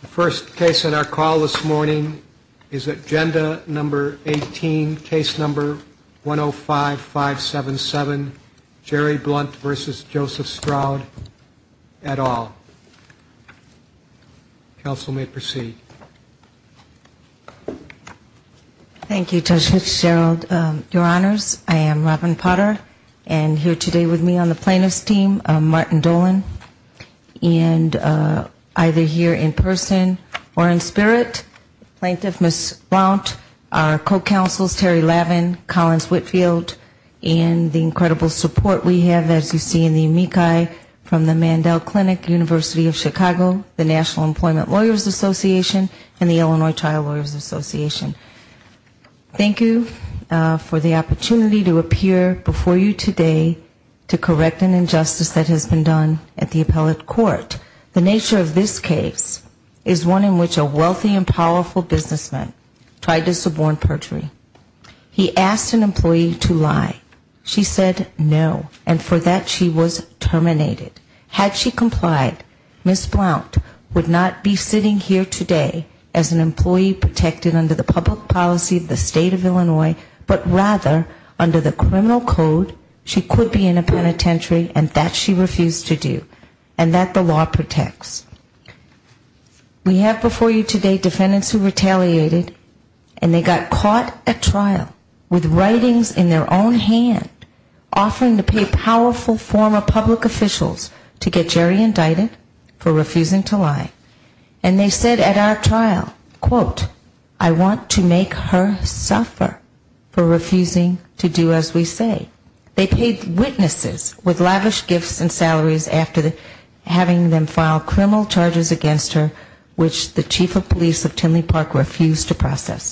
The first case on our call this morning is Agenda No. 18, Case No. 105-577, Jerry Blount v. Joseph Stroud, et al. Counsel may proceed. Thank you, Judge Fitzgerald. Your Honors, I am Robin Potter, and here today with me on the plaintiff's team, Martin Dolan, and either here in person or in spirit, Plaintiff Ms. Blount, our co-counsels Terry Lavin, Collins Whitfield, and the incredible support we have, as you see in the amici from the Mandel Clinic, University of Chicago, the National Employment Lawyers Association, and the Illinois Trial Lawyers Association. Thank you for the opportunity to appear before you today to correct an injustice that has been done at the appellate court. The nature of this case is one in which a wealthy and powerful businessman tried to suborn perjury. He asked an employee to lie. She said no, and for that she was terminated. Had she complied, Ms. Blount would not be sitting here today as an employee protected under the public policy of the state of Illinois, but rather under the criminal code, she could be in a penitentiary, and that she refused to do, and that the law protects. We have before you today defendants who retaliated, and they got caught at trial with writings in their own hand, offering to pay powerful former public officials to get Jerry indicted for refusing to lie. And they said at our trial, quote, I want to sue you. They paid witnesses with lavish gifts and salaries after having them file criminal charges against her, which the chief of police of Timley Park refused to process.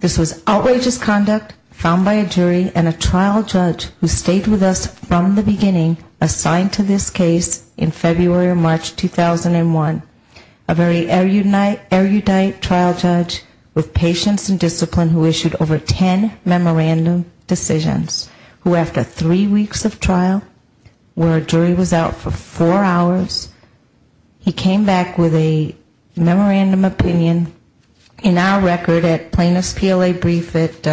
This was outrageous conduct found by a jury and a trial judge who stayed with us from the beginning assigned to this case in February or April, with patience and discipline, who issued over ten memorandum decisions, who after three weeks of trial, where a jury was out for four hours, he came back with a memorandum opinion in our record at plaintiff's PLA brief at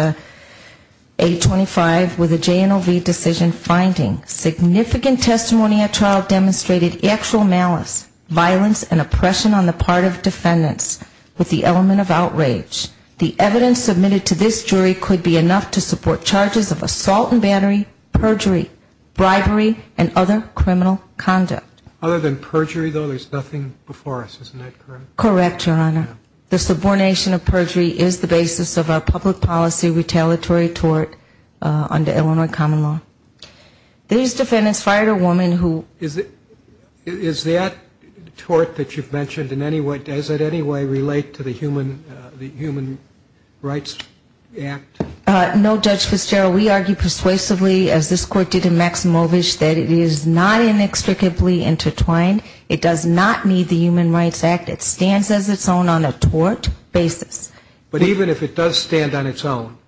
825 with a J and OV decision finding significant testimony at trial demonstrated actual malice, violence and oppression on the part of defendants with the element of outrage. The evidence submitted to this jury could be enough to support charges of assault and battery, perjury, bribery and other criminal conduct. Other than perjury, though, there's nothing before us, isn't that correct? Correct, Your Honor. The subordination of perjury is the basis of our public policy retaliatory tort under Illinois common law. These defendants fired a woman who... Is that tort that you've mentioned in any way, does it in any way relate to the Human Rights Act? No, Judge Fitzgerald. We argue persuasively, as this Court did in Maximovich, that it is not inextricably intertwined. It does not need the Human Rights Act. It stands as its own on a tort basis. But even if it does stand on its own,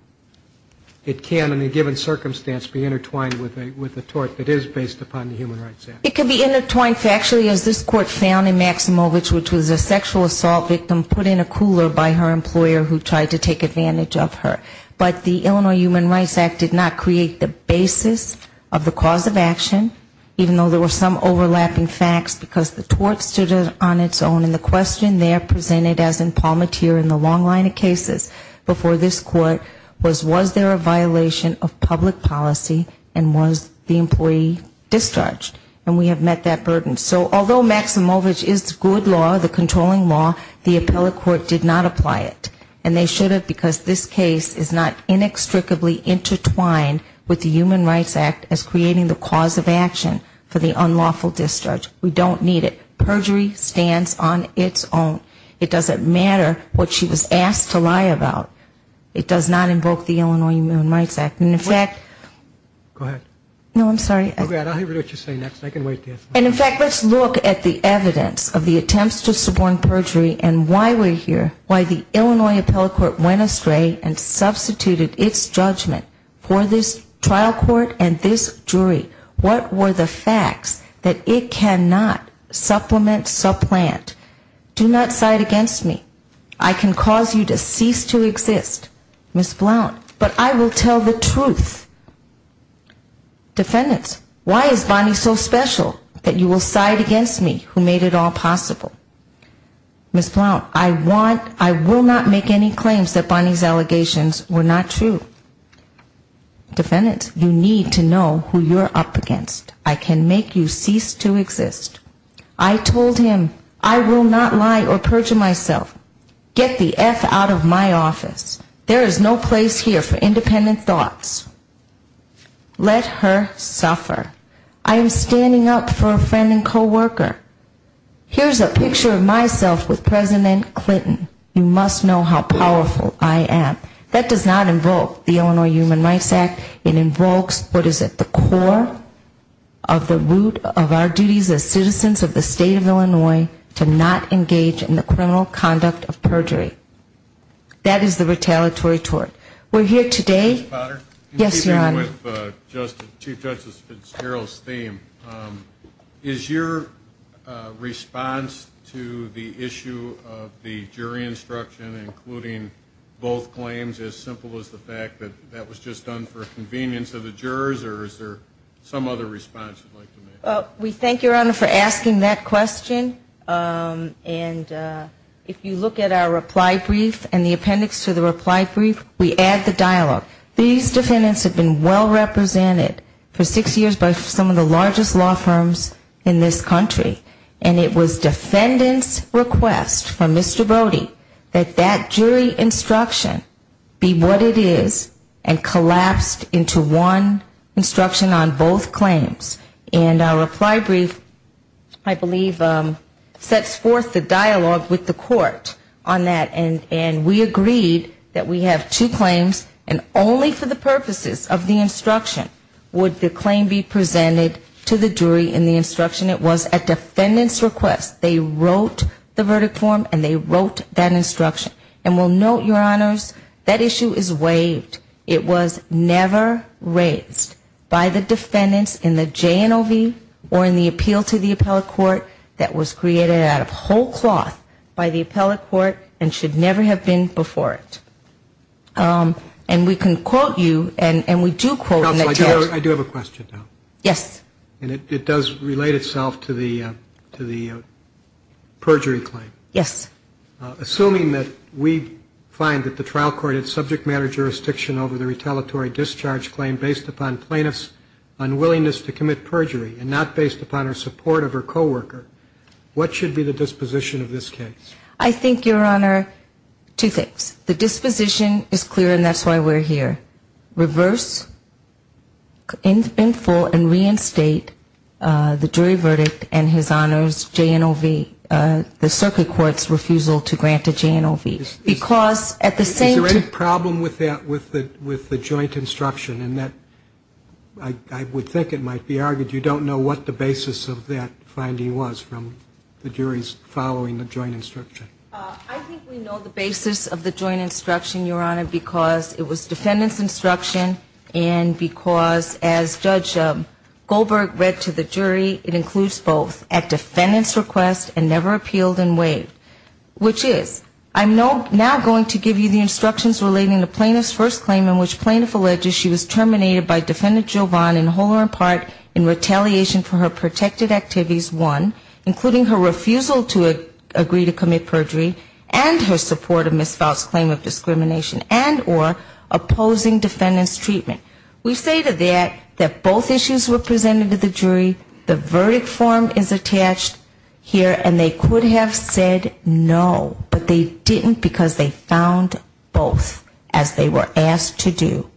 it can, in a given circumstance, be intertwined with a tort that is based upon the Human Rights Act? It can be intertwined factually, as this Court found in Maximovich, which was a sexual assault victim put in a cooler by her employer who tried to take advantage of her. But the Illinois Human Rights Act did not create the basis of the cause of action, even though there were some overlapping facts, because the tort stood on its own, and the question there presented as in Palmatier in the long line of cases before this Court was, was there a violation of public policy and was the employee discharged? And we have met that burden. So although Maximovich is good law, the controlling law, the appellate court did not apply it. And they should have, because this case is not inextricably intertwined with the Human Rights Act as creating the cause of action for the unlawful discharge. We don't need it. Perjury stands on its own. It doesn't matter what she was asked to lie about. It does not invoke the Illinois Human Rights Act. And in fact, let's look at the evidence of the attempts to suborn perjury and why we're here, why the Illinois appellate court went astray and substituted its judgment for this trial court and this jury. What were the facts that it cannot supplement, supplant? Do not side against me. I can cause you to cease to exist, Ms. Blount, but I will tell the truth. Defendants, why is Bonnie so special that you will side against me who made it all possible? Ms. Blount, I want, I will not make any claims that Bonnie's allegations were not true. Defendants, you need to know who you're up against. I can make you cease to exist. I told him I will not lie or perjure myself. Get the F out of my office. There is no place here for independent thoughts. Let her suffer. I am standing up for a friend and coworker. Here's a picture of myself with President Clinton. You must know how powerful I am. That does not invoke the Illinois Human Rights Act. It invokes what is at the core of the root of our duties as citizens of the state of Illinois to not engage in the criminal conduct of perjury. That is the retaliatory tort. We're here today, yes, Your Honor. In keeping with Chief Justice Fitzgerald's theme, is your response to the issue of the jury instruction, including both claims, as simple as the fact that that was just done for convenience of the jurors, or is there some other response you'd like to make? We thank Your Honor for asking that question, and if you look at our reply to that, it's very simple. In the reply brief and the appendix to the reply brief, we add the dialogue. These defendants have been well represented for six years by some of the largest law firms in this country, and it was defendants' request from Mr. Brody that that jury instruction be what it is and collapsed into one instruction on both claims. And our reply brief, I believe, sets forth the dialogue with the court on that, and we agreed that we have two claims, and only for the purposes of the instruction would the claim be presented to the jury in the instruction. It was a defendant's request. They wrote the verdict form, and they wrote that instruction. And we'll note, Your Honors, that issue is waived. It was never raised by the defendants in the JNOV or in the appeal to the appellate court that was created out of whole cloth by the appellate court and should never have been before it. And we can quote you, and we do quote in that case. I do have a question, though. Yes. And it does relate itself to the perjury claim. Yes. Assuming that we find that the trial court had subject matter jurisdiction over the retaliatory discharge claim based upon plaintiff's unwillingness to commit perjury and not based upon her support of her co-worker, what should be the disposition of this case? I think, Your Honor, two things. The disposition is clear, and that's why we're here. Reverse, infill, and reinstate the jury verdict and his honor's JNOV. And the circuit court's refusal to grant a JNOV. Because at the same time... Is there any problem with that, with the joint instruction, in that I would think it might be argued you don't know what the basis of that finding was from the jury's following the joint instruction? I think we know the basis of the joint instruction, Your Honor, because it was defendant's instruction and because, as Judge Goldberg read to the jury, it includes both at defendant's request and the defendant's request. And it says, I'm now going to give you the instructions relating to plaintiff's first claim in which plaintiff alleges she was terminated by defendant Jovon in whole or in part in retaliation for her protected activities, one, including her refusal to agree to commit perjury, and her support of Ms. Foutt's claim of discrimination, and or opposing defendant's treatment. We say to that that both issues were presented to the jury, the verdict form is attached here, and they agreed to that. They could have said no, but they didn't because they found both, as they were asked to do.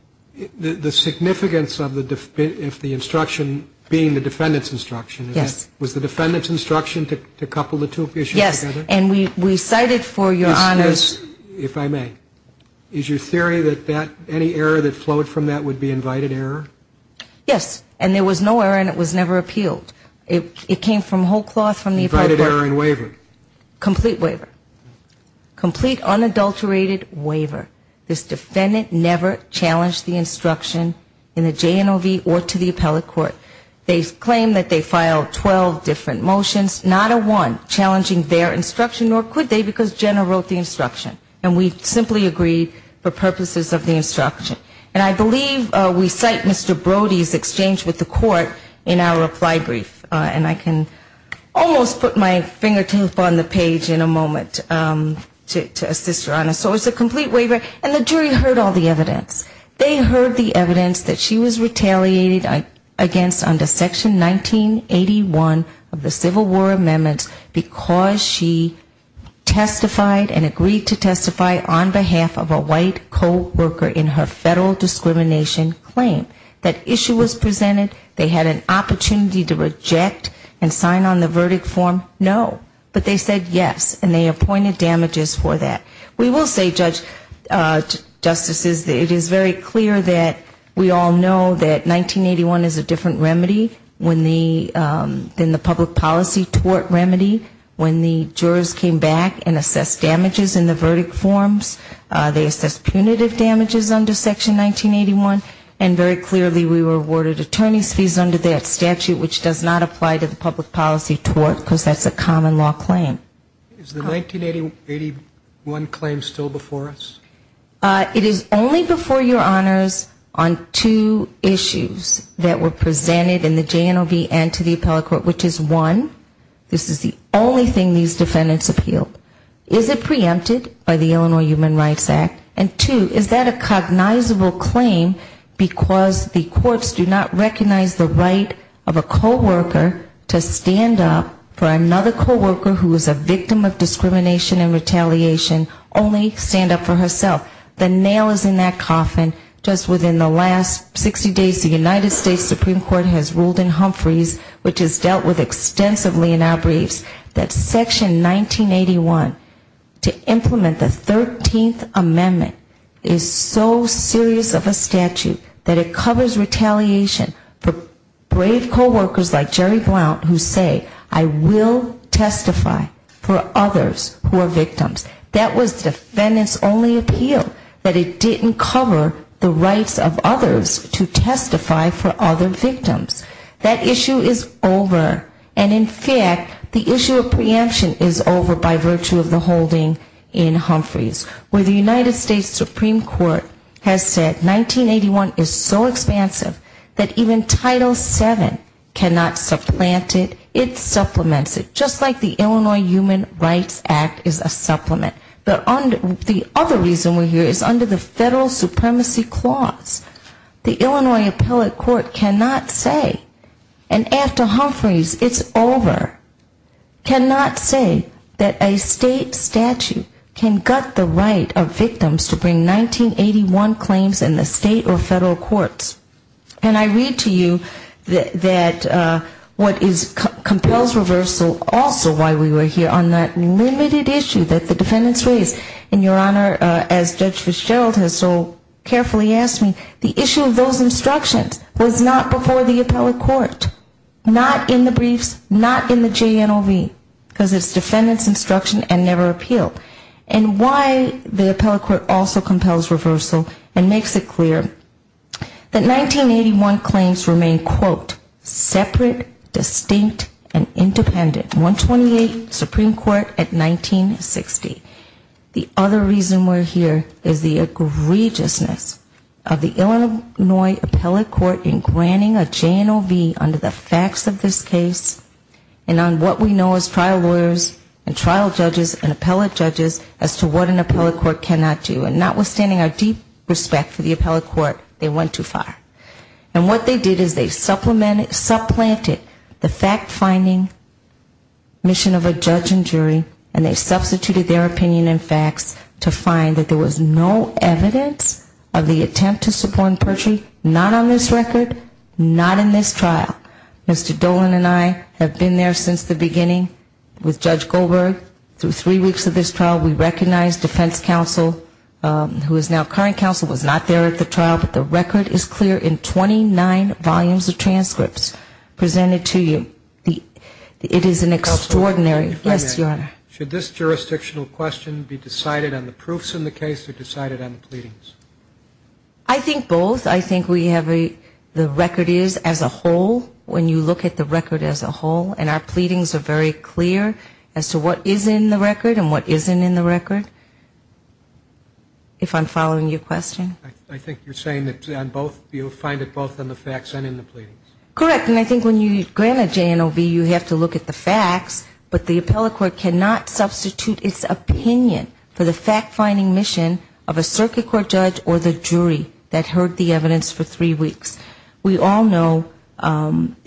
The significance of the, if the instruction being the defendant's instruction, was the defendant's instruction to couple the two issues together? Yes, and we cited for, Your Honor... Yes, yes, if I may. Is your theory that any error that flowed from that would be invited error? Yes, and there was no error and it was never appealed. It came from whole cloth from the... Invited error and waiver. Complete waiver. Complete unadulterated waiver. This defendant never challenged the instruction in the JNOV or to the appellate court. They claim that they filed 12 different motions, not a one challenging their instruction, nor could they because Jenna wrote the instruction, and we simply agreed for purposes of the instruction. And I believe we cite Mr. Brody's exchange with the court in our reply brief. And I can almost put my fingertip on the page in a moment to assist, Your Honor. So it's a complete waiver, and the jury heard all the evidence. They heard the evidence that she was retaliated against under Section 1981 of the Civil War Amendments because she testified and agreed to testify on behalf of a white co-worker in her federal discrimination claim. That issue was presented, they had an opportunity to reject and sign on the verdict form, no. But they said yes, and they appointed damages for that. We will say, judges, justices, that it is very clear that we all know that 1981 is a different remedy than the public policy tort remedy. When the jurors came back and assessed damages in the verdict forms, they assessed punitive damages under Section 1981, and very clearly, they said no. Clearly, we were awarded attorney's fees under that statute, which does not apply to the public policy tort, because that's a common law claim. Is the 1981 claim still before us? It is only before, Your Honors, on two issues that were presented in the JNOB and to the appellate court, which is, one, this is the only thing these defendants appealed. Is it preempted by the Illinois Human Rights Act? And, two, is that a cognizable claim, because the courts do not recognize the right of a co-worker to stand up for another co-worker who is a victim of discrimination and retaliation, only stand up for herself? The nail is in that coffin. Just within the last 60 days, the United States Supreme Court has ruled in Humphreys, which is dealt with extensively in our briefs, that Section 1981, to implement the 13th Amendment, does not apply. The 13th Amendment is so serious of a statute that it covers retaliation for brave co-workers like Jerry Blount, who say, I will testify for others who are victims. That was defendants' only appeal, that it didn't cover the rights of others to testify for other victims. That issue is over, and, in fact, the issue of preemption is over by virtue of the holding in Humphreys, where the United States Supreme Court has ruled in Humphreys. The United States Supreme Court has said 1981 is so expansive that even Title VII cannot supplant it, it supplements it, just like the Illinois Human Rights Act is a supplement. The other reason we're here is under the Federal Supremacy Clause, the Illinois Appellate Court cannot say, and after Humphreys, it's over, cannot say that a state statute can gut the right of victims to testify. And I read to you that what compels reversal, also why we were here, on that limited issue that the defendants raised, and, Your Honor, as Judge Fitzgerald has so carefully asked me, the issue of those instructions was not before the Appellate Court, not in the briefs, not in the JNOV, because it's defendants' instruction and never appealed. And why the Appellate Court also compels reversal and makes it clear that 1981 claims remain, quote, separate, distinct, and independent. 128, Supreme Court at 1960. The other reason we're here is the egregiousness of the Illinois Appellate Court in granting a JNOV under the facts of this case and on what we know as trial lawyers and trial judges and appellate judges in Illinois. And the reason why we're here is because the Appellate Court did not grant a JNOV under the facts of this case and on what we know as trial lawyers and trial judges as to what an appellate court cannot do, and notwithstanding our deep respect for the Appellate Court, they went too far. And what they did is they supplemented, supplanted the fact-finding mission of a judge and jury, and they substituted their opinion and facts to find that there was no evidence of the attempt to subpoena perjury, not on this record, not in this trial. Mr. Dolan and I have been there since the beginning with Judge Goldberg. Through three weeks of this trial, we recognized defense counsel, who is now current counsel, was not there at the trial, but the record is clear in 29 volumes of transcripts presented to you. It is an extraordinary... Yes, Your Honor. Should this jurisdictional question be decided on the proofs in the case or decided on the pleadings? I think both. I think we have a, the record is as a whole, when you look at the record as a whole, and our pleadings are very clear as to what is in the record and what isn't in the record. If I'm following your question? I think you're saying that on both, you'll find it both in the facts and in the pleadings. Correct. And I think when you grant a JNOV, you have to look at the facts, but the Appellate Court cannot substitute its opinion for the fact-finding mission of a circuit court judge and jury. We all know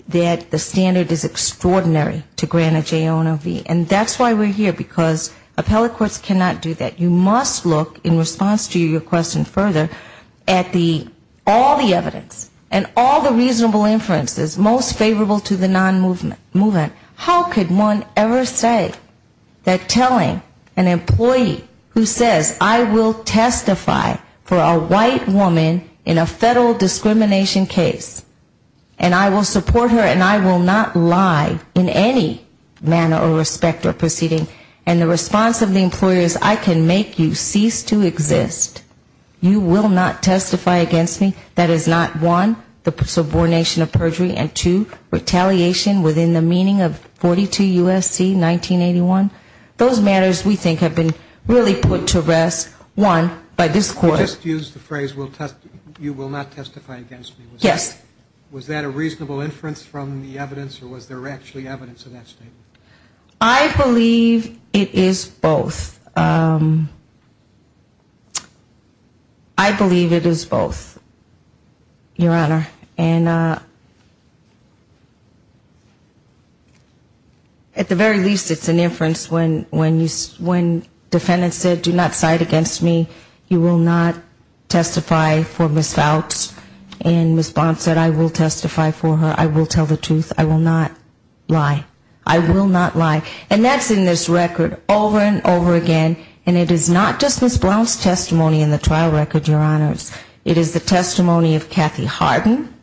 that the standard is extraordinary to grant a JNOV, and that's why we're here, because Appellate Courts cannot do that. You must look, in response to your question further, at the, all the evidence, and all the reasonable inferences most favorable to the non-movement. How could one ever say that telling an employee who says, I will testify for a JNOV, is not a good thing? If a white woman in a federal discrimination case, and I will support her and I will not lie in any manner or respect or proceeding, and the response of the employer is, I can make you cease to exist, you will not testify against me? That is not, one, the subordination of perjury, and two, retaliation within the meaning of 42 U.S.C. 1981? Those matters, we think, have been really put to rest, one, by this Court. You just used the phrase, you will not testify against me. Yes. Was that a reasonable inference from the evidence, or was there actually evidence of that statement? I believe it is both. I believe it is both, Your Honor, and at the very least, it's an inference when defendant said, do not cite against me, you will not testify against me. I will not testify for Ms. Fouts, and Ms. Blount said, I will testify for her, I will tell the truth, I will not lie. I will not lie. And that's in this record, over and over again, and it is not just Ms. Blount's testimony in the trial record, Your Honors. It is the testimony of Kathy Harden,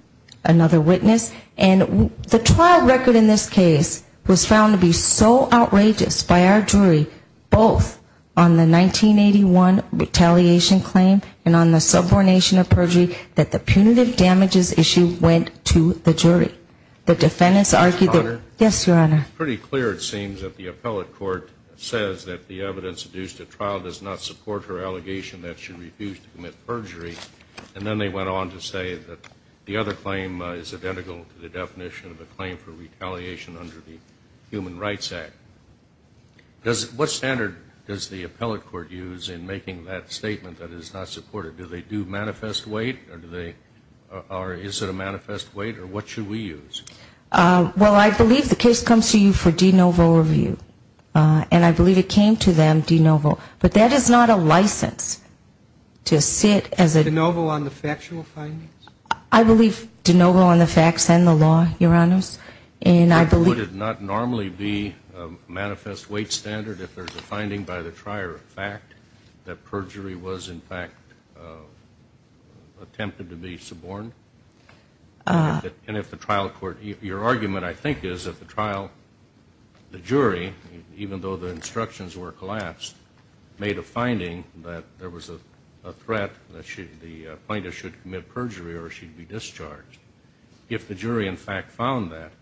another witness, and the trial record in this case was found to be so outrageous by our jury, both on the 1981 retaliation claim, and on the subordination of perjury, that the punitive damages issue went to the jury. The defendants argued that, yes, Your Honor? It's pretty clear, it seems, that the appellate court says that the evidence used at trial does not support her allegation that she refused to commit perjury. And then they went on to say that the other claim is identical to the definition of a claim for retaliation under the Human Rights Act. What standard does the appellate court use in making that statement that is not supportive? Do they do manifest weight, or is it a manifest weight, or what should we use? Well, I believe the case comes to you for de novo review, and I believe it came to them de novo. But that is not a license to sit as a... De novo on the factual findings? I believe de novo on the facts and the law, Your Honors, and I believe... Would it not normally be a manifest weight standard if there's a finding by the trier of fact that perjury was, in fact, attempted to be suborned? And if the trial court... Your argument, I think, is that the trial... The jury, even though the instructions were collapsed, made a finding that there was a threat that the plaintiff should commit perjury or she'd be discharged, if the jury, in fact, found that,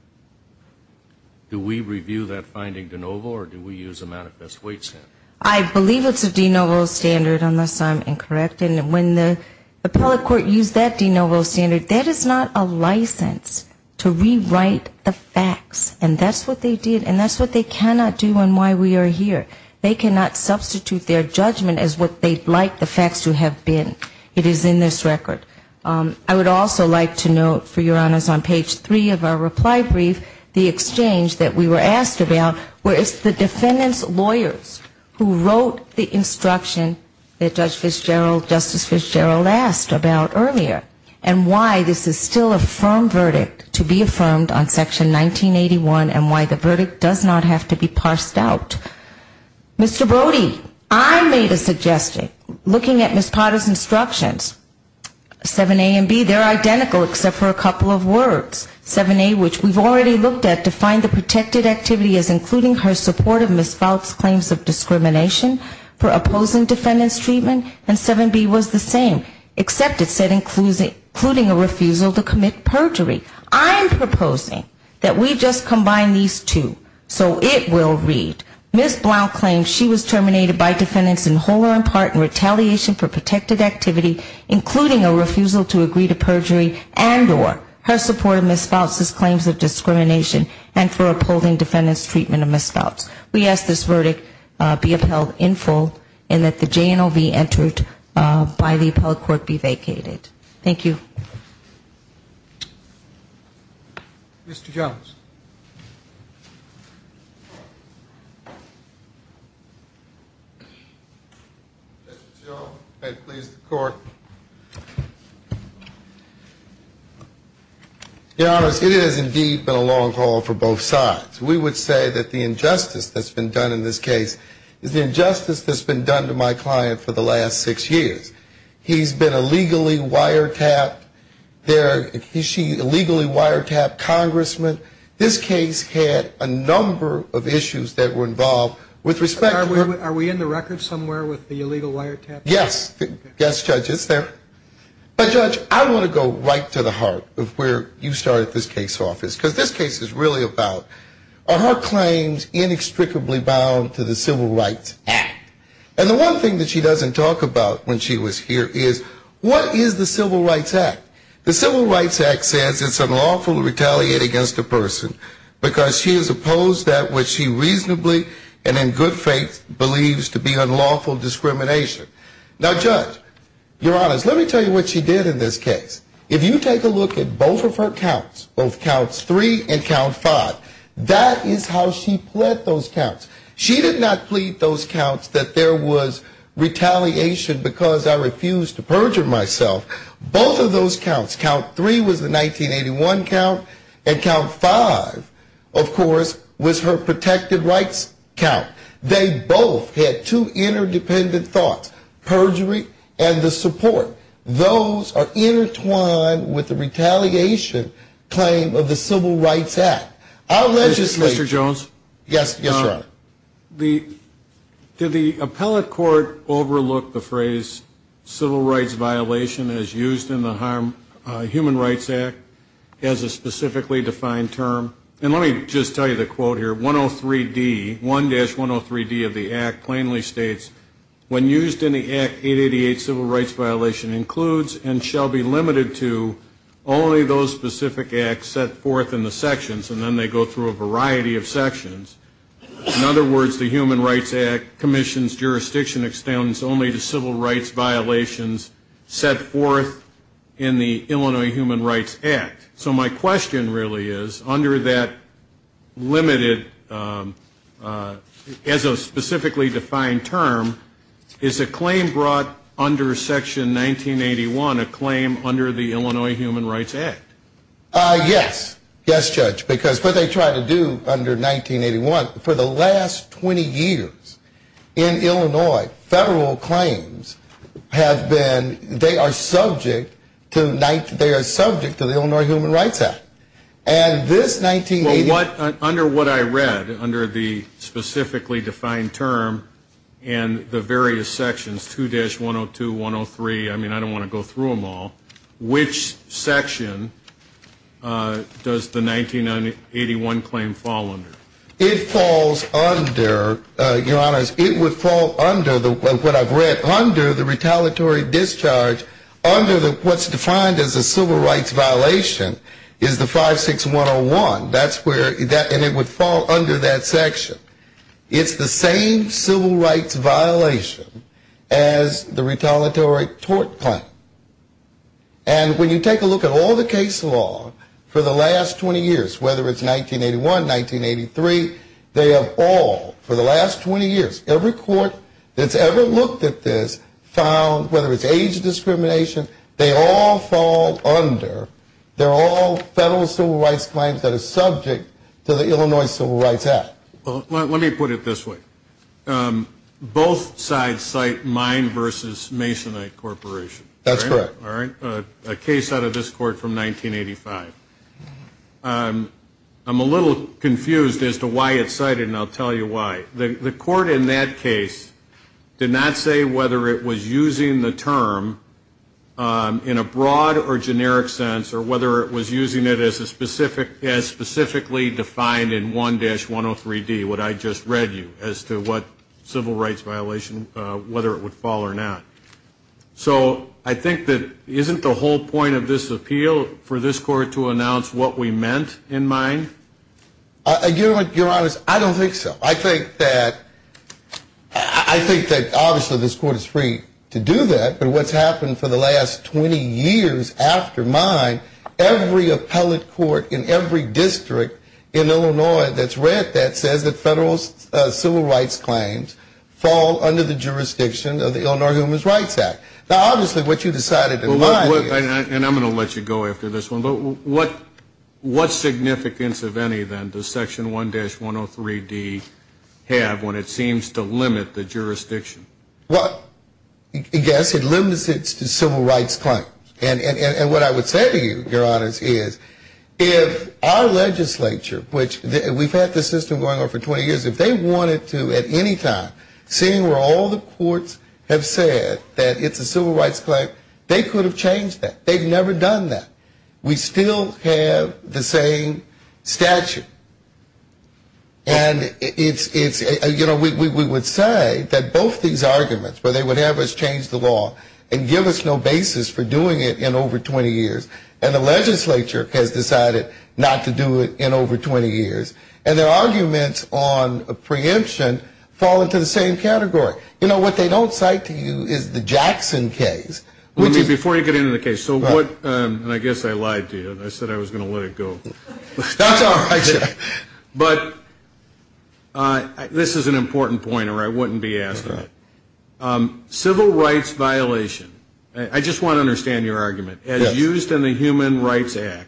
do we review that finding de novo, or do we use a manifest weight standard? I believe it's a de novo standard, unless I'm incorrect. And when the appellate court used that de novo standard, that is not a license to rewrite the facts. And that's what they did, and that's what they cannot do and why we are here. They cannot substitute their judgment as what they'd like the facts to have been. It is in this record. I would also like to note, for Your Honors, on page 3 of our reply brief, the exchange that we were asked about, where it's the defendant's lawyers who wrote the instruction that Judge Fitzgerald, Justice Fitzgerald asked about earlier, and why this is still a firm verdict to be affirmed on Section 1981 and why the verdict does not have to be parsed out. Mr. Brody, I made a suggestion, looking at Ms. Potter's instructions, 7A and B, they're identical, except for a couple of words. 7A, which we've already looked at, defined the protected activity as including her support of Ms. Fouts' claims of discrimination for opposing defendant's treatment, and 7B was the same, except it said including a refusal to commit perjury. I'm proposing that we just combine these two so it will read, Ms. Blount-Clark, who claims she was terminated by defendants in whole or in part in retaliation for protected activity, including a refusal to agree to perjury and or her support of Ms. Fouts' claims of discrimination and for upholding defendant's treatment of Ms. Fouts. We ask this verdict be upheld in full and that the JNOV entered by the upheld court be vacated. Thank you. Mr. Till, if I could please the court. Your Honor, it has indeed been a long call for both sides. We would say that the injustice that's been done in this case is the injustice that's been done to my client for the last six years. He's been a legally wiretapped, she's a legally wiretapped congressman. This case had a number of issues that were involved with respect to her. Are we in the record somewhere with the illegal wiretap? Yes, Judge, it's there. But, Judge, I want to go right to the heart of where you started this case off, because this case is really about, are her claims inextricably bound to the Civil Rights Act? And the one thing that she doesn't talk about when she was here is, what is the Civil Rights Act? The Civil Rights Act says it's unlawful to retaliate against a person because she has opposed that which she reasonably and in good faith believes to be unlawful discrimination. Now, Judge, Your Honor, let me tell you what she did in this case. If you take a look at both of her counts, both counts three and count five, that is how she pled those counts. She did not plead those counts that there was retaliation because I refused to perjure myself. Both of those counts, count three was the 1981 count, and count five, of course, was her protected rights count. They both had two interdependent thoughts, perjury and the support. Those are intertwined with the retaliation claim of the Civil Rights Act. I'll legislate. Mr. Jones? Yes, Your Honor. Did the appellate court overlook the phrase civil rights violation as used in the Human Rights Act as a specifically defined term? And let me just tell you the quote here. 103D, 1-103D of the Act plainly states, when used in the Act, 888 civil rights violation includes and shall be limited to only those specific acts set forth in the sections, and then they go through a variety of sections. In other words, the Human Rights Act commissions jurisdiction extends only to civil rights violations set forth in the Illinois Human Rights Act. So my question really is, under that limited, as a specifically defined term, is a claim brought under Section 1981 a claim under the Illinois Human Rights Act? Yes. Yes, Judge, because what they try to do under 1981, for the last 20 years in Illinois, federal claims have been, they are subject to the Illinois Human Rights Act. Under what I read, under the specifically defined term, and the various sections, 2-102, 103, I mean, I don't want to go through them all, which section does the 1981 claim fall under? It falls under, Your Honors, it would fall under what I've read, under the retaliatory discharge, under what's defined as a civil rights violation, is the 56101. And it would fall under that section. It's the same civil rights violation as the retaliatory tort claim. And when you take a look at all the case law for the last 20 years, whether it's 1981, 1983, they have all, for the last 20 years, every court that's ever looked at this found, whether it's age discrimination, they all fall under, they're all federal civil rights claims that are subject to the Illinois Civil Rights Act. Well, let me put it this way. Both sides cite mine versus Masonite Corporation. That's correct. A case out of this court from 1985. I'm a little confused as to why it's cited, and I'll tell you why. The court in that case did not say whether it was using the term in a broad or generic sense, or whether it was using it as specifically defined in 1-103D, what I just read you, as to what civil rights violation, whether it would fall or not. So I think that isn't the whole point of this appeal for this court to announce what we meant in mind? Your Honor, I don't think so. I think that obviously this court is free to do that, but what's happened for the last 20 years after mine, every appellate court in every district in Illinois that's read that says that federal civil rights claims fall under the jurisdiction of the Illinois Human Rights Act. Now, obviously what you decided in mind is. And I'm going to let you go after this one, but what significance, if any, then, does Section 1-103D have when it seems to limit the jurisdiction? Well, yes, it limits it to civil rights claims. And what I would say to you, Your Honor, is if our legislature, which we've had this system going on for 20 years, if they wanted to at any time, seeing where all the courts have said that it's a civil rights claim, they could have changed that. They've never done that. We still have the same statute. And it's, you know, we would say that both these arguments, where they would have us change the law and give us no basis for doing it in over 20 years, and the legislature has decided not to do it in over 20 years, and their arguments on a preemption fall into the same category. You know, what they don't cite to you is the Jackson case. Before you get into the case, so what, and I guess I lied to you. I said I was going to let it go. That's all right, sir. But this is an important point, or I wouldn't be asking it. Civil rights violation. I just want to understand your argument. As used in the Human Rights Act,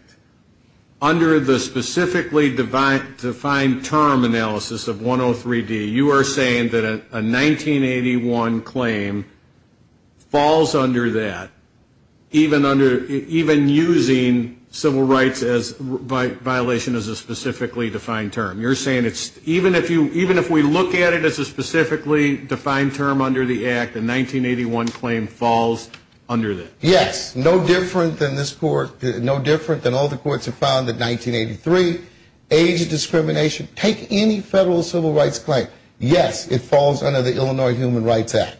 under the specifically defined term analysis of 103D, you are saying that a 1981 claim falls under that, even under, even using civil rights violation as a specifically defined term. You're saying it's, even if we look at it as a specifically defined term under the act, a 1981 claim falls under that. Yes, no different than this court, no different than all the courts have found that 1983, age of discrimination, take any federal civil rights claim. Yes, it falls under the Illinois Human Rights Act.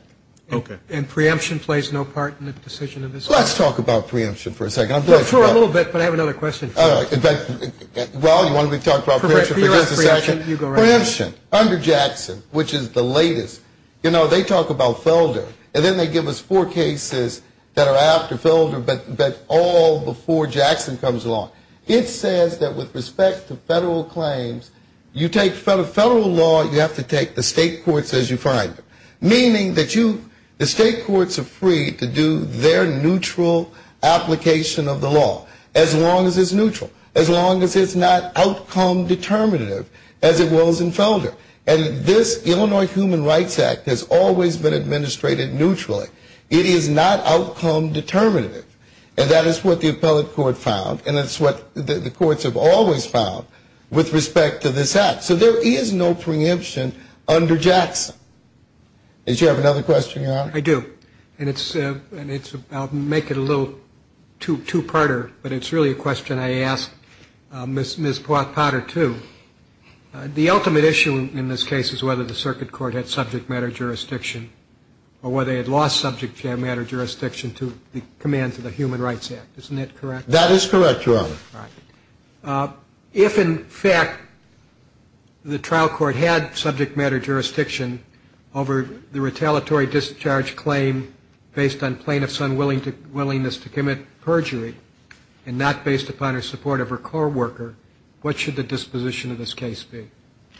Okay. And preemption plays no part in the decision of this court? Let's talk about preemption for a second. For a little bit, but I have another question. Well, you want me to talk about preemption for just a second? Preemption. Under Jackson, which is the latest, you know, they talk about Felder, and then they give us four cases that are after Felder, but all before Jackson comes along. It says that with respect to federal claims, you take federal law, you have to take the state courts as you find them. Meaning that you, the state courts are free to do their neutral application of the law, as long as it's neutral, as long as it's not outcome determinative, as it was in Felder. And this Illinois Human Rights Act has always been administrated neutrally. It is not outcome determinative, and that is what the appellate court found, and it's what the courts have always found with respect to this act. So there is no preemption under Jackson. Did you have another question, Your Honor? I do. And I'll make it a little two-parter, but it's really a question I ask Ms. Potter, too. The ultimate issue in this case is whether the circuit court had subject matter jurisdiction or whether they had lost subject matter jurisdiction to the commands of the Human Rights Act. Isn't that correct? That is correct, Your Honor. All right. If, in fact, the trial court had subject matter jurisdiction over the retaliatory discharge claim based on plaintiff's unwillingness to commit perjury and not based upon her support of her co-worker, what should the disposition of this case be?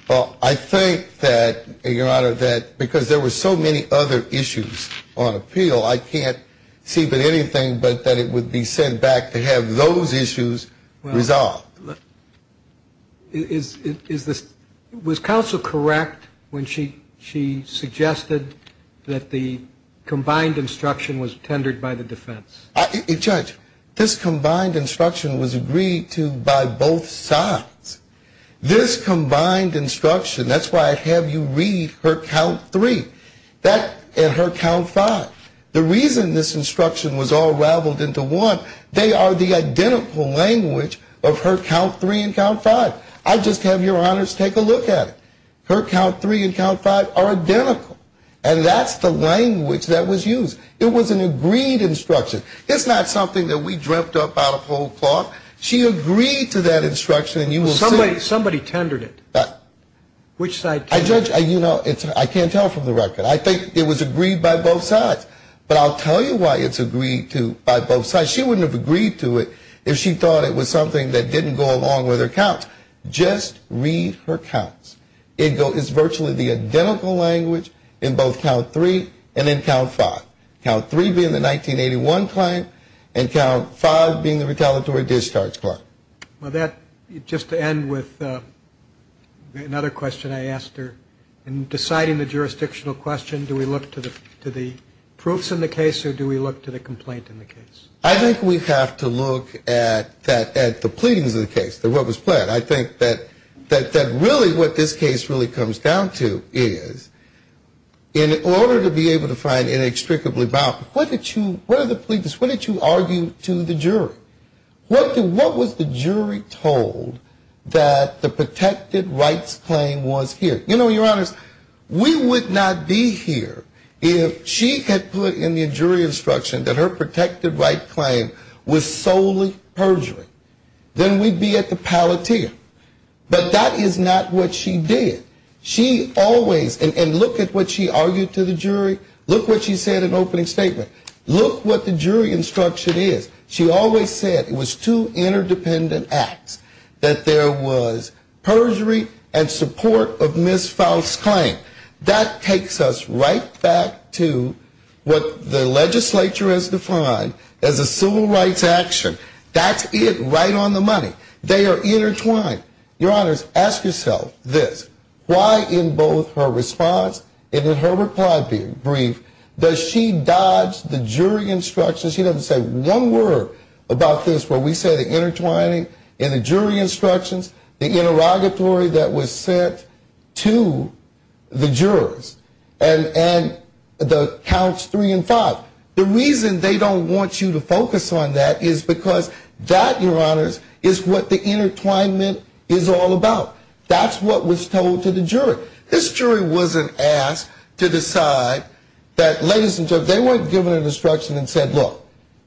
Well, I think that, Your Honor, that because there were so many other issues on appeal, I can't see but anything but that it would be sent back to have those issues resolved. Was counsel correct when she suggested that the combined instruction was tendered by the defense? Judge, this combined instruction was agreed to by both sides. This combined instruction, that's why I have you read her count three and her count five. The reason this instruction was all raveled into one, they are the identical language of her count three and count five. I just have Your Honors take a look at it. Her count three and count five are identical, and that's the language that was used. It was an agreed instruction. It's not something that we dreamt up out of whole cloth. She agreed to that instruction. Somebody tendered it. Which side? Judge, I can't tell from the record. I think it was agreed by both sides. But I'll tell you why it's agreed to by both sides. She wouldn't have agreed to it if she thought it was something that didn't go along with her count. Just read her counts. It's virtually the identical language in both count three and in count five. Count three being the 1981 client and count five being the retaliatory discharge client. Well, that, just to end with another question I asked her, in deciding the jurisdictional question, do we look to the proofs in the case or do we look to the complaint in the case? I think we have to look at the pleadings of the case, what was pled. I think that really what this case really comes down to is in order to be able to find inextricably bound, what did you, what are the pleadings, what did you argue to the jury? What was the jury told that the protected rights claim was here? You know, your honors, we would not be here if she had put in the jury instruction that her protected right claim was solely perjury. Then we'd be at the palatia. But that is not what she did. She always, and look at what she argued to the jury, look what she said in opening statement. Look what the jury instruction is. She always said it was two interdependent acts, that there was perjury and support of Ms. Faust's claim. That takes us right back to what the legislature has defined as a civil rights action. That's it, right on the money. They are intertwined. Your honors, ask yourself this. Why in both her response and in her reply brief does she dodge the jury instructions? She doesn't say one word about this where we say the intertwining in the jury instructions, the interrogatory that was sent to the jurors, and the counts three and five. The reason they don't want you to focus on that is because that, your honors, is what the intertwinement is all about. That's what was told to the jury. This jury wasn't asked to decide that, ladies and gentlemen, they weren't given an instruction and said, look,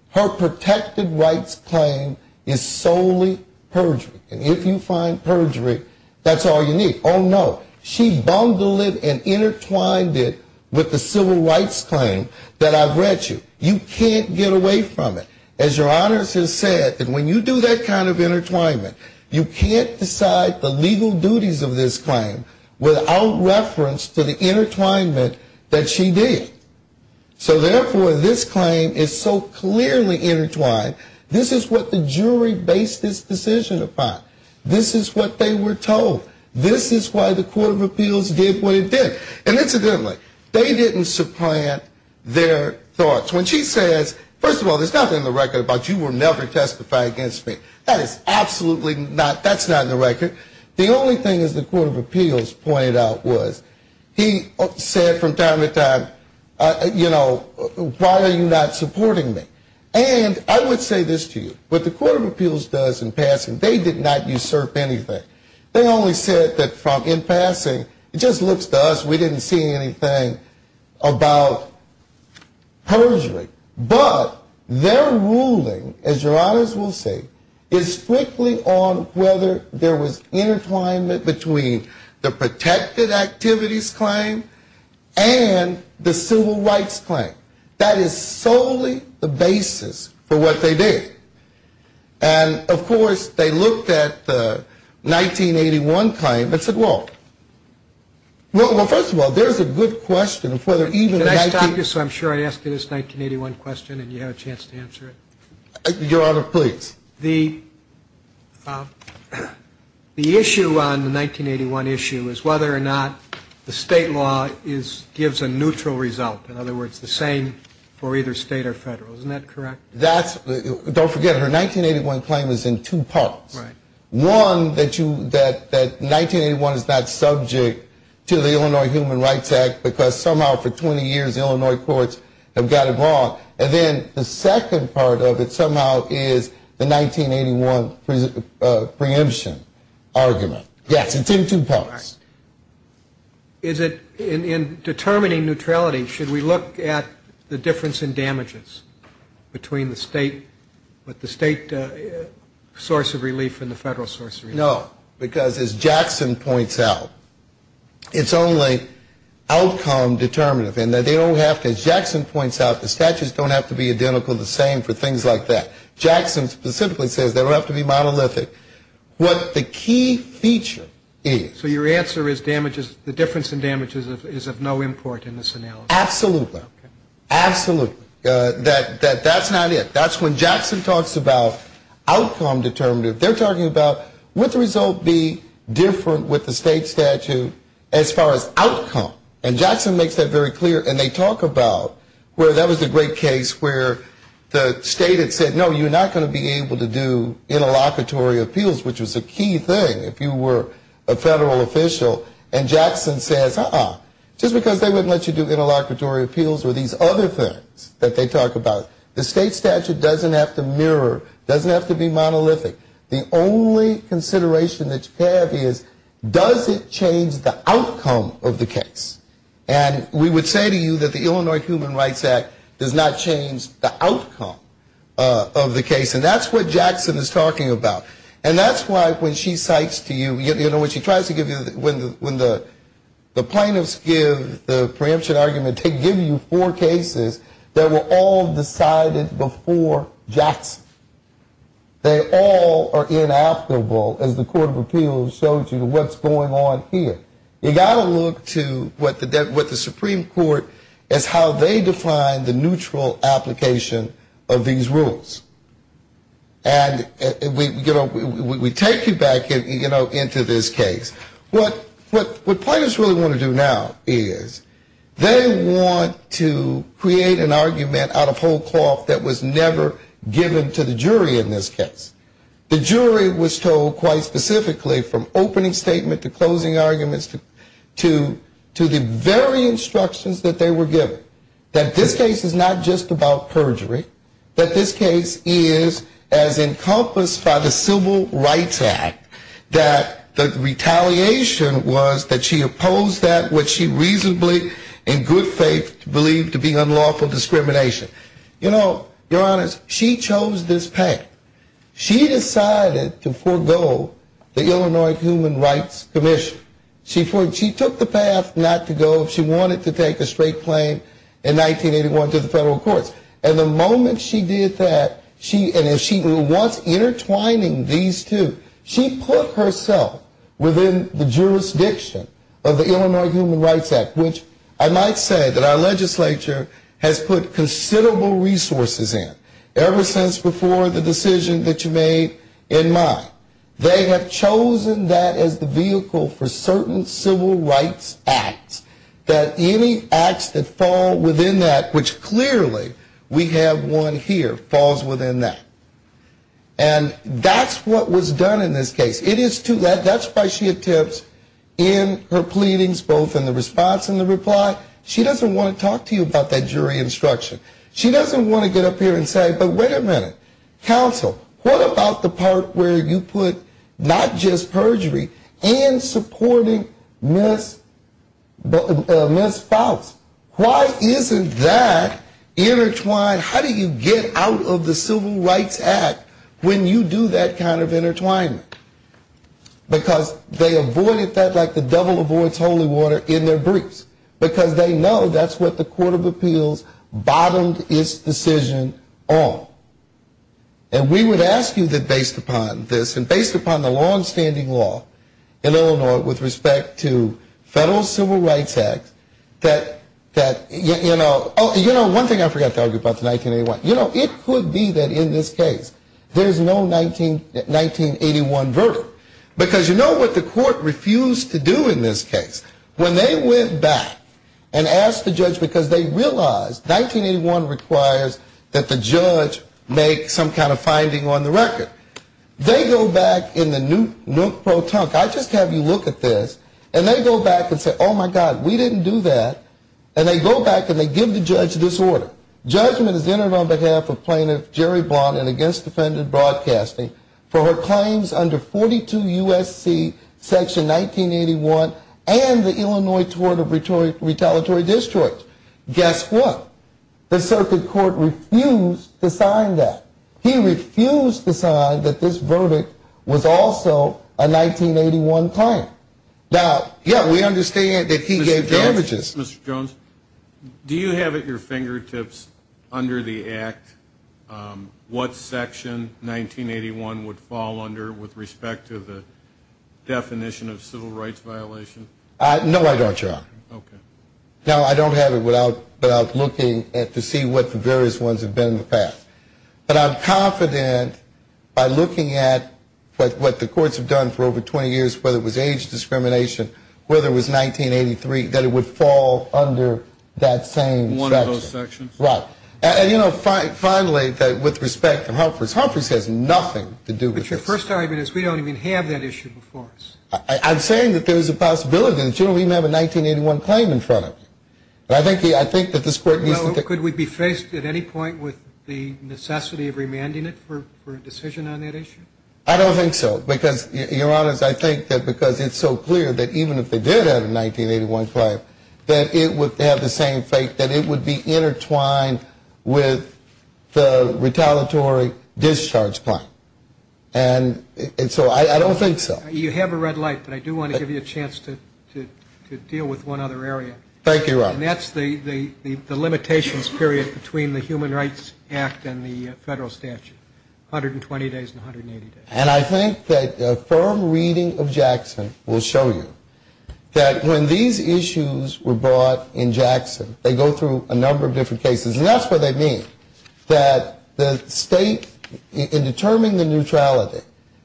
her protected rights claim is solely perjury. And if you find perjury, that's all you need. She bundled it and intertwined it with the civil rights claim that I've read to you. You can't get away from it. As your honors have said, when you do that kind of intertwinement, you can't decide the legal duties of this claim without reference to the intertwinement that she did. So therefore, this claim is so clearly intertwined, this is what the jury based this decision upon. This is what they were told. This is why the Court of Appeals did what it did. And incidentally, they didn't supplant their thoughts. When she says, first of all, there's nothing in the record about you were never testified against me. That is absolutely not, that's not in the record. The only thing, as the Court of Appeals pointed out, was he said from time to time, you know, why are you not supporting me? And I would say this to you, what the Court of Appeals does in passing, they did not usurp anything. They only said that in passing, it just looks to us, we didn't see anything about perjury. But their ruling, as your honors will see, is strictly on whether there was intertwinement between the protected activities claim and the civil rights claim. That is solely the basis for what they did. And of course, they looked at the 1981 claim and said, well, well, first of all, there's a good question of whether even Can I stop you so I'm sure I ask you this 1981 question and you have a chance to answer it? Your honor, please. The issue on the 1981 issue is whether or not the state law gives a neutral result. In other words, the same for either state or federal. Isn't that correct? Don't forget, her 1981 claim is in two parts. One, that 1981 is not subject to the Illinois Human Rights Act because somehow for 20 years Illinois courts have got it wrong. And then the second part of it somehow is the 1981 preemption argument. Yes, it's in two parts. In determining neutrality, should we look at the difference in damages between the state source of relief and the federal source of relief? No, because as Jackson points out, it's only outcome determinative. As Jackson points out, the statutes don't have to be identical or the same for things like that. Jackson specifically says they don't have to be monolithic. What the key feature is. So your answer is the difference in damages is of no import in this analysis. Absolutely. Absolutely. That's not it. That's when Jackson talks about outcome determinative. They're talking about would the result be different with the state statute as far as outcome. And Jackson makes that very clear. And they talk about where that was a great case where the state had said, no, you're not going to be able to do interlocutory appeals, which was a key thing if you were a federal official. And Jackson says, uh-uh, just because they wouldn't let you do interlocutory appeals were these other things that they talk about. The state statute doesn't have to mirror, doesn't have to be monolithic. The only consideration that you have is does it change the outcome of the case? And we would say to you that the Illinois Human Rights Act does not change the outcome of the case. And that's what Jackson is talking about. And that's why when she cites to you, you know, when she tries to give you, when the plaintiffs give the preemption argument, they give you four cases that were all decided before Jackson. They all are inaptible, as the court of appeals showed you, to what's going on here. You've got to look to what the Supreme Court, as how they define the neutral application of these rules. And we take you back, you know, into this case. What plaintiffs really want to do now is they want to create an argument out of whole cloth that was never given to the jury in this case. The jury was told quite specifically from opening statement to closing arguments to the very instructions that they were given, that this case is not just about perjury, that this case is as encompassed by the Civil Rights Act, that the retaliation was that she opposed that which she reasonably in good faith believed to be unlawful discrimination. You know, your honors, she chose this path. She decided to forego the Illinois Human Rights Commission. She took the path not to go if she wanted to take a straight claim in 1981 to the federal courts. And the moment she did that, and she was intertwining these two, she put herself within the jurisdiction of the Illinois Human Rights Act, which I might say that our legislature has put considerable resources in ever since before the decision that you made in mine. They have chosen that as the vehicle for certain Civil Rights Acts, that any acts that fall within that, which clearly we have one here, falls within that. And that's what was done in this case. That's why she attempts in her pleadings both in the response and the reply, she doesn't want to talk to you about that jury instruction. She doesn't want to get up here and say, but wait a minute, counsel, what about the part where you put not just perjury and supporting Ms. Faust? Why isn't that intertwined? How do you get out of the Civil Rights Act when you do that kind of intertwining? Because they avoided that like the devil avoids holy water in their briefs, because they know that's what the Court of Appeals bottomed its decision on. And we would ask you that based upon this and based upon the longstanding law in Illinois with respect to federal Civil Rights Act, that, you know, one thing I forgot to argue about in 1981. You know, it could be that in this case there's no 1981 verdict, because you know what the court refused to do in this case? When they went back and asked the judge, because they realized 1981 requires that the judge make some kind of finding on the record. They go back in the nook pro tonk, I just have you look at this, and they go back and say, oh, my God, we didn't do that. And they go back and they give the judge this order. Judgment is entered on behalf of Plaintiff Jerry Blondin against defendant broadcasting for her claims under 42 U.S.C. Section 1981 and the Illinois Tort of Retaliatory Destroyed. Guess what? The circuit court refused to sign that. He refused to sign that this verdict was also a 1981 claim. Now, yeah, we understand that he gave damages. Mr. Jones, do you have at your fingertips under the act what section 1981 would fall under with respect to the definition of civil rights violation? No, I don't, John. Now, I don't have it without looking to see what the various ones have been in the past. But I'm confident by looking at what the courts have done for over 20 years, whether it was age discrimination, whether it was 1983, that it would fall under that same section. One of those sections? Right. And, you know, finally, with respect to Humphreys, Humphreys has nothing to do with this. But your first argument is we don't even have that issue before us. I'm saying that there is a possibility that you don't even have a 1981 claim in front of you. But I think that this court needs to think. Well, could we be faced at any point with the necessity of remanding it for a decision on that issue? I don't think so, because, Your Honors, I think that because it's so clear that even if they did have a 1981 claim, that it would have the same fate, that it would be intertwined with the retaliatory discharge claim. And so I don't think so. You have a red light, but I do want to give you a chance to deal with one other area. Thank you, Robert. And I think that a firm reading of Jackson will show you that when these issues were brought in Jackson, they go through a number of different cases. And that's what they mean, that the state, in determining the neutrality,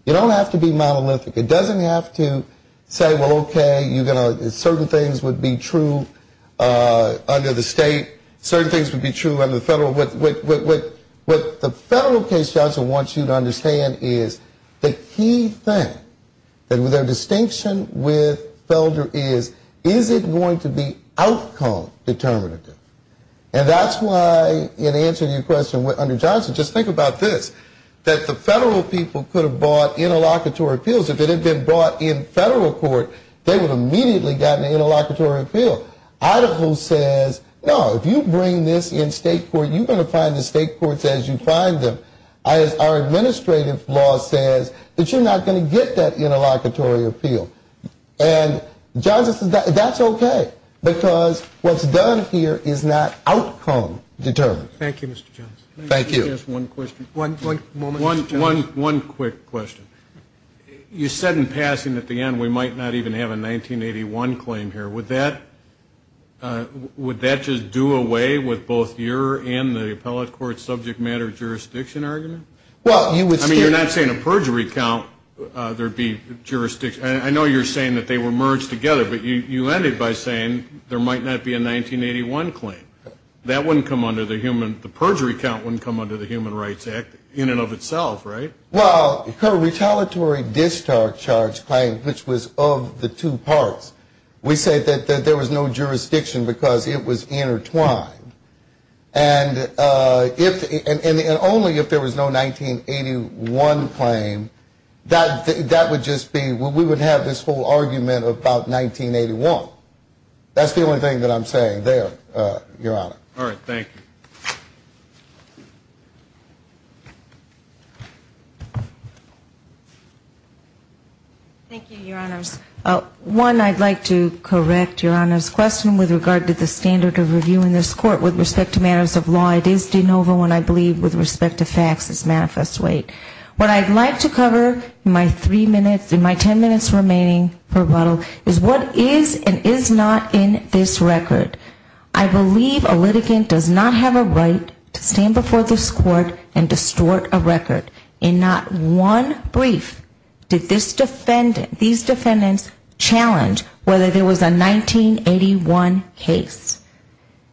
it don't have to be monolithic. It doesn't have to say, well, okay, certain things would be true under the state. Certain things would be true under the federal. What the federal case, Johnson, wants you to understand is the key thing, their distinction with Felder is, is it going to be outcome determinative? And that's why in answering your question under Johnson, just think about this, that the federal people could have bought interlocutory appeals that had been brought in federal court, they would have immediately gotten an interlocutory appeal. Idaho says, no, if you bring this in state court, you're going to find the state courts as you find them. Our administrative law says that you're not going to get that interlocutory appeal. And Johnson says that's okay, because what's done here is not outcome determined. Thank you, Mr. Johnson. One quick question. You said in passing at the end we might not even have a 1981 claim here. Would that just do away with both your and the appellate court's subject matter jurisdiction argument? I mean, you're not saying a perjury count, there would be jurisdiction. I know you're saying they were merged together, but you ended by saying there might not be a 1981 claim. That wouldn't come under the human, the perjury count wouldn't come under the Human Rights Act in and of itself, right? Well, her retaliatory discharge claim, which was of the two parts, we say that there was no jurisdiction because it was intertwined. And only if there was no 1981 claim, that would just be, we would have this whole argument about 1981. That's the only thing that I'm saying there, Your Honor. All right, thank you. Thank you, Your Honors. One, I'd like to correct Your Honor's question with regard to the standard of review in this court with respect to matters of law. It is de novo and I believe with respect to facts, it's manifest weight. What I'd like to cover in my three minutes, in my ten minutes remaining, is what is and is not in this record. I believe a litigant does not have a right to stand before this court and distort a record. In not one brief did these defendants challenge whether there was a 1981 case.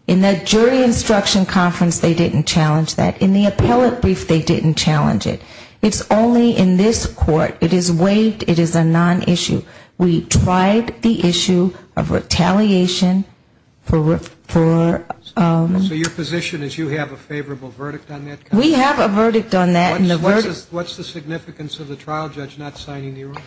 In the jury instruction conference, they didn't challenge that. In the appellate brief, they didn't challenge it. It's only in this court, it is weighed, it is a non-issue. We tried the issue of retaliation for ‑‑ So your position is you have a favorable verdict on that? We have a verdict on that. What's the significance of the trial judge not signing the order?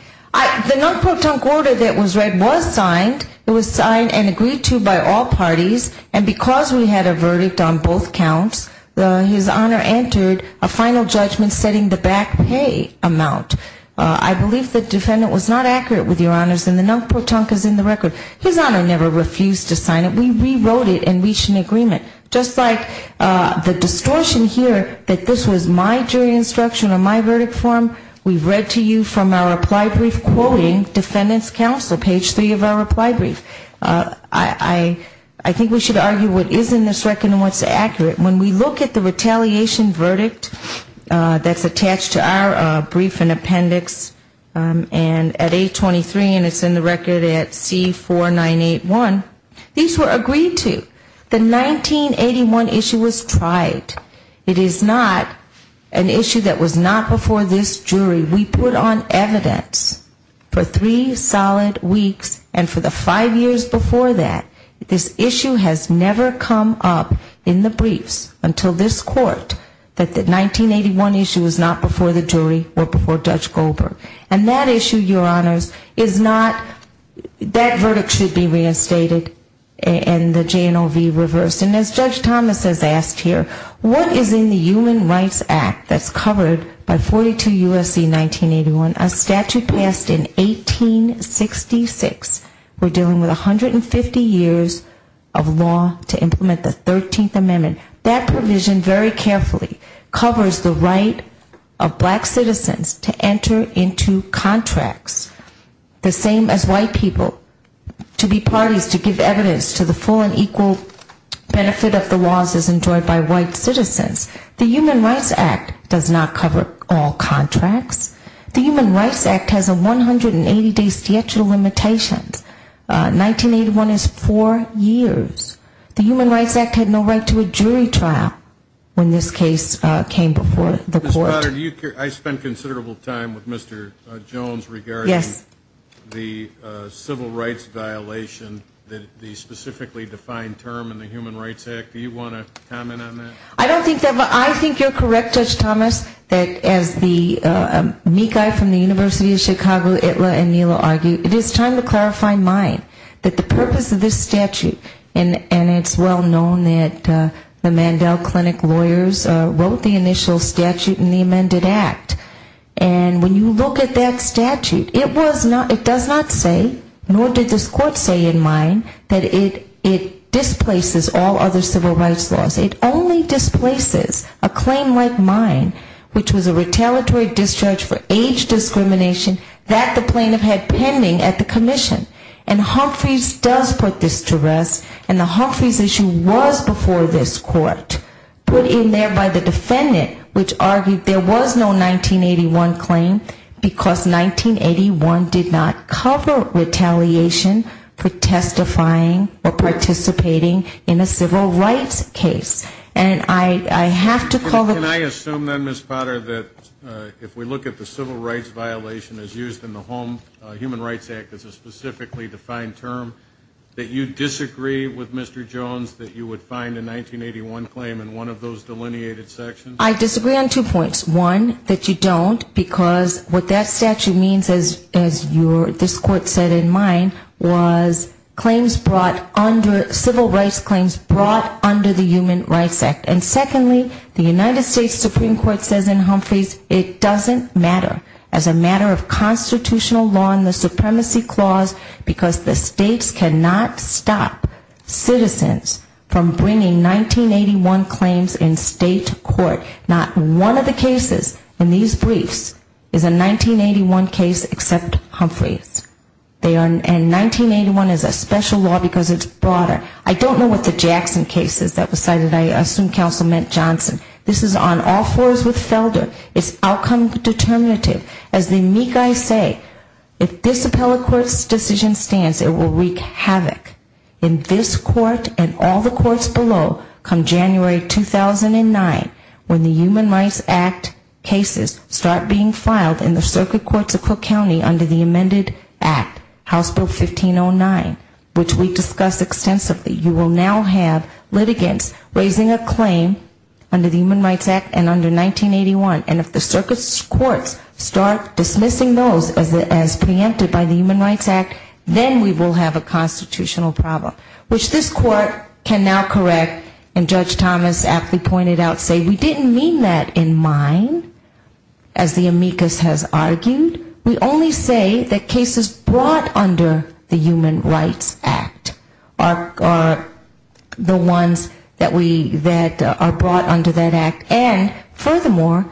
The order that was read was signed. It was signed and agreed to by all parties. And because we had a verdict on both counts, his Honor entered a final judgment setting the back pay amount. I believe the defendant was not accurate with your Honors and the NUNC protunque is in the record. His Honor never refused to sign it. We rewrote it and reached an agreement. Just like the distortion here that this was my jury instruction on my verdict form, we've read to you from our reply brief quoting defendants' counsel, page 3 of our reply brief. I think we should argue what is in this record and what's accurate. When we look at the retaliation verdict that's attached to our brief and appendix and at A23 and it's in the record at C4981, these were agreed to. The 1981 issue was tried. It is not an issue that was not before this jury. We put on evidence for three solid weeks and for the five years before that. This issue has never come up in the briefs until this court that the 1981 issue was not before the jury or before Judge Goldberg. And that issue, your Honors, is not, that verdict should be reinstated and the JNOV reversed. And as Judge Thomas has asked here, what is in the Human Rights Act that's covered by 42 U.S.C. 1981, a statute passed in 1866. We're dealing with 150 years of law to implement the 13th Amendment. That provision very carefully covers the right of black citizens to enter into contracts. The same as white people to be parties to give evidence to the full and equal benefit of the laws as enjoyed by white citizens. The Human Rights Act does not cover all contracts. The Human Rights Act has a 180-day statute of limitations. 1981 is four years. The Human Rights Act had no right to a jury trial when this case came before the court. Ms. Potter, I spent considerable time with Mr. Jones regarding the civil rights violation, the specifically defined term in the Human Rights Act. Do you want to comment on that? I don't think that, but I think you're correct, Judge Thomas, that as the meek eye from the University of Chicago, Itla, and Nilo argue, it is time to clarify mine. That the purpose of this statute, and it's well known that the Mandel Clinic lawyers wrote the initial statute in the amended act. And when you look at that statute, it does not say, nor did this court say in mine, that it displaces all other civil rights laws. It only displaces a claim like mine, which was a retaliatory discharge for age discrimination that the plaintiff had pending at the commission. And Humphreys does put this to rest, and the Humphreys issue was before this court, put in there by the defendant, which argued there was no 1981 claim, because 1981 did not cover retaliation for testifying or participating in a civil rights case. And I have to call the question. If we look at the civil rights violation as used in the Human Rights Act as a specifically defined term, that you disagree with Mr. Jones that you would find a 1981 claim in one of those delineated sections? I disagree on two points. One, that you don't, because what that statute means, as this court said in mine, was claims brought under, civil rights claims brought under the Human Rights Act. And secondly, the United States Supreme Court says in Humphreys, it doesn't matter as a matter of constitutional law in the supremacy clause, because the states cannot stop citizens from bringing 1981 claims in state court. Not one of the cases in these briefs is a 1981 case except Humphreys. And 1981 is a special law because it's broader. I don't know what the Jackson case is that was cited. I assume Kelly will know. It's the Meek I Say. If this Appellate Court's decision stands, it will wreak havoc in this court and all the courts below come January 2009 when the Human Rights Act cases start being filed in the circuit courts of Cook County under the amended act, House Bill 1509, which we discussed extensively. You will now have litigants raising a claim under that statute. And if the circuit courts start dismissing those as preempted by the Human Rights Act, then we will have a constitutional problem, which this court can now correct and Judge Thomas aptly pointed out, say we didn't mean that in mind, as the amicus has argued. We only say that cases brought under the Human Rights Act are the ones that are brought under that act. And furthermore,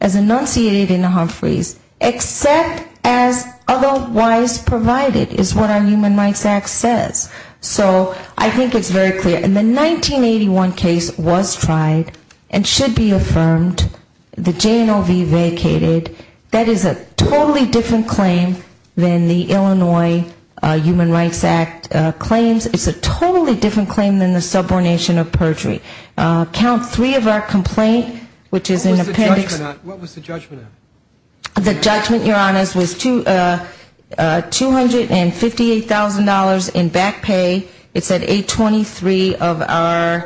as enunciated in Humphreys, except as otherwise provided is what our Human Rights Act says. So I think it's very clear. And the 1981 case was tried and should be affirmed. The JNOV vacated. That is a totally different claim than the Illinois Human Rights Act claims. It's a totally different claim than the subordination of perjury. Count three of our complaint, which is an appendix. What was the judgment on? The judgment, Your Honors, was $258,000 in back pay. It's at 823 of our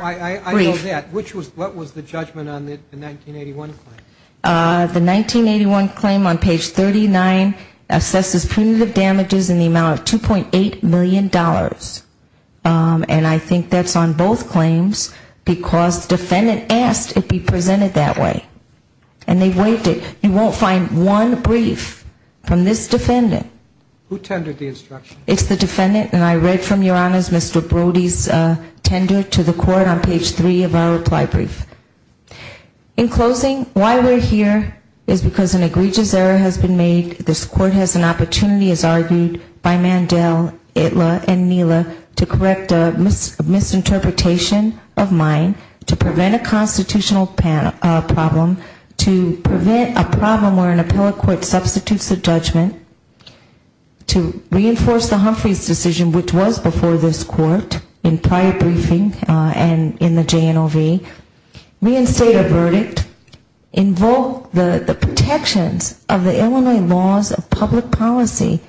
brief. I know that. What was the judgment on the 1981 claim? The 1981 claim on page 39 assesses punitive damages in the amount of $2.8 million. And I think that's on both claims because the defendant asked it be presented that way. And they waived it. You won't find one brief from this defendant. Who tendered the instruction? It's the defendant. And I read from, Your Honors, Mr. Brody's tender to the court on page three of our reply brief. In closing, why we're here is because an egregious error has been made. This court has an opportunity, as argued by Mandell, Itla, and Neela, to correct a misinterpretation of mine, to prevent a constitutional problem, to prevent a problem where an appellate court substitutes the judgment, to reinforce the Humphreys decision, which was before this court in prior briefing and in the JNOV. Reinstate a verdict, invoke the protections of the Illinois laws of public policy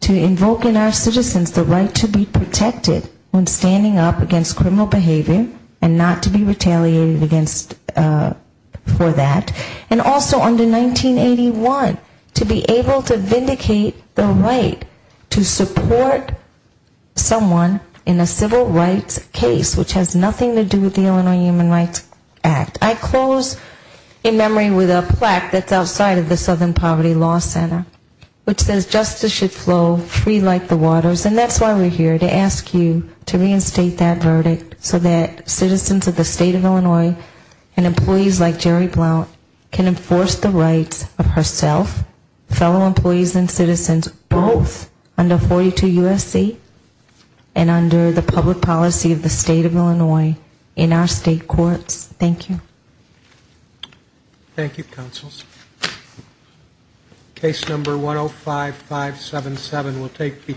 to invoke in our citizens the right to be protected when standing up against criminal behavior and not to be retaliated against for that. And also under 1981, to be able to vindicate the right to support someone in a civil rights case, which has nothing to do with the Illinois Human Rights Act. I close in memory with a plaque that's outside of the Southern Poverty Law Center, which says justice should flow free like the waters. And that's why we're here, to ask you to reinstate that verdict so that citizens of the state of Illinois and employees like Jerry Blount can enforce the rights of herself, fellow employees and citizens, both under 42 U.S.C. and under the public policy of the state of Illinois in our state courts. Thank you. Thank you, counsels. Case number 105577 will take the floor.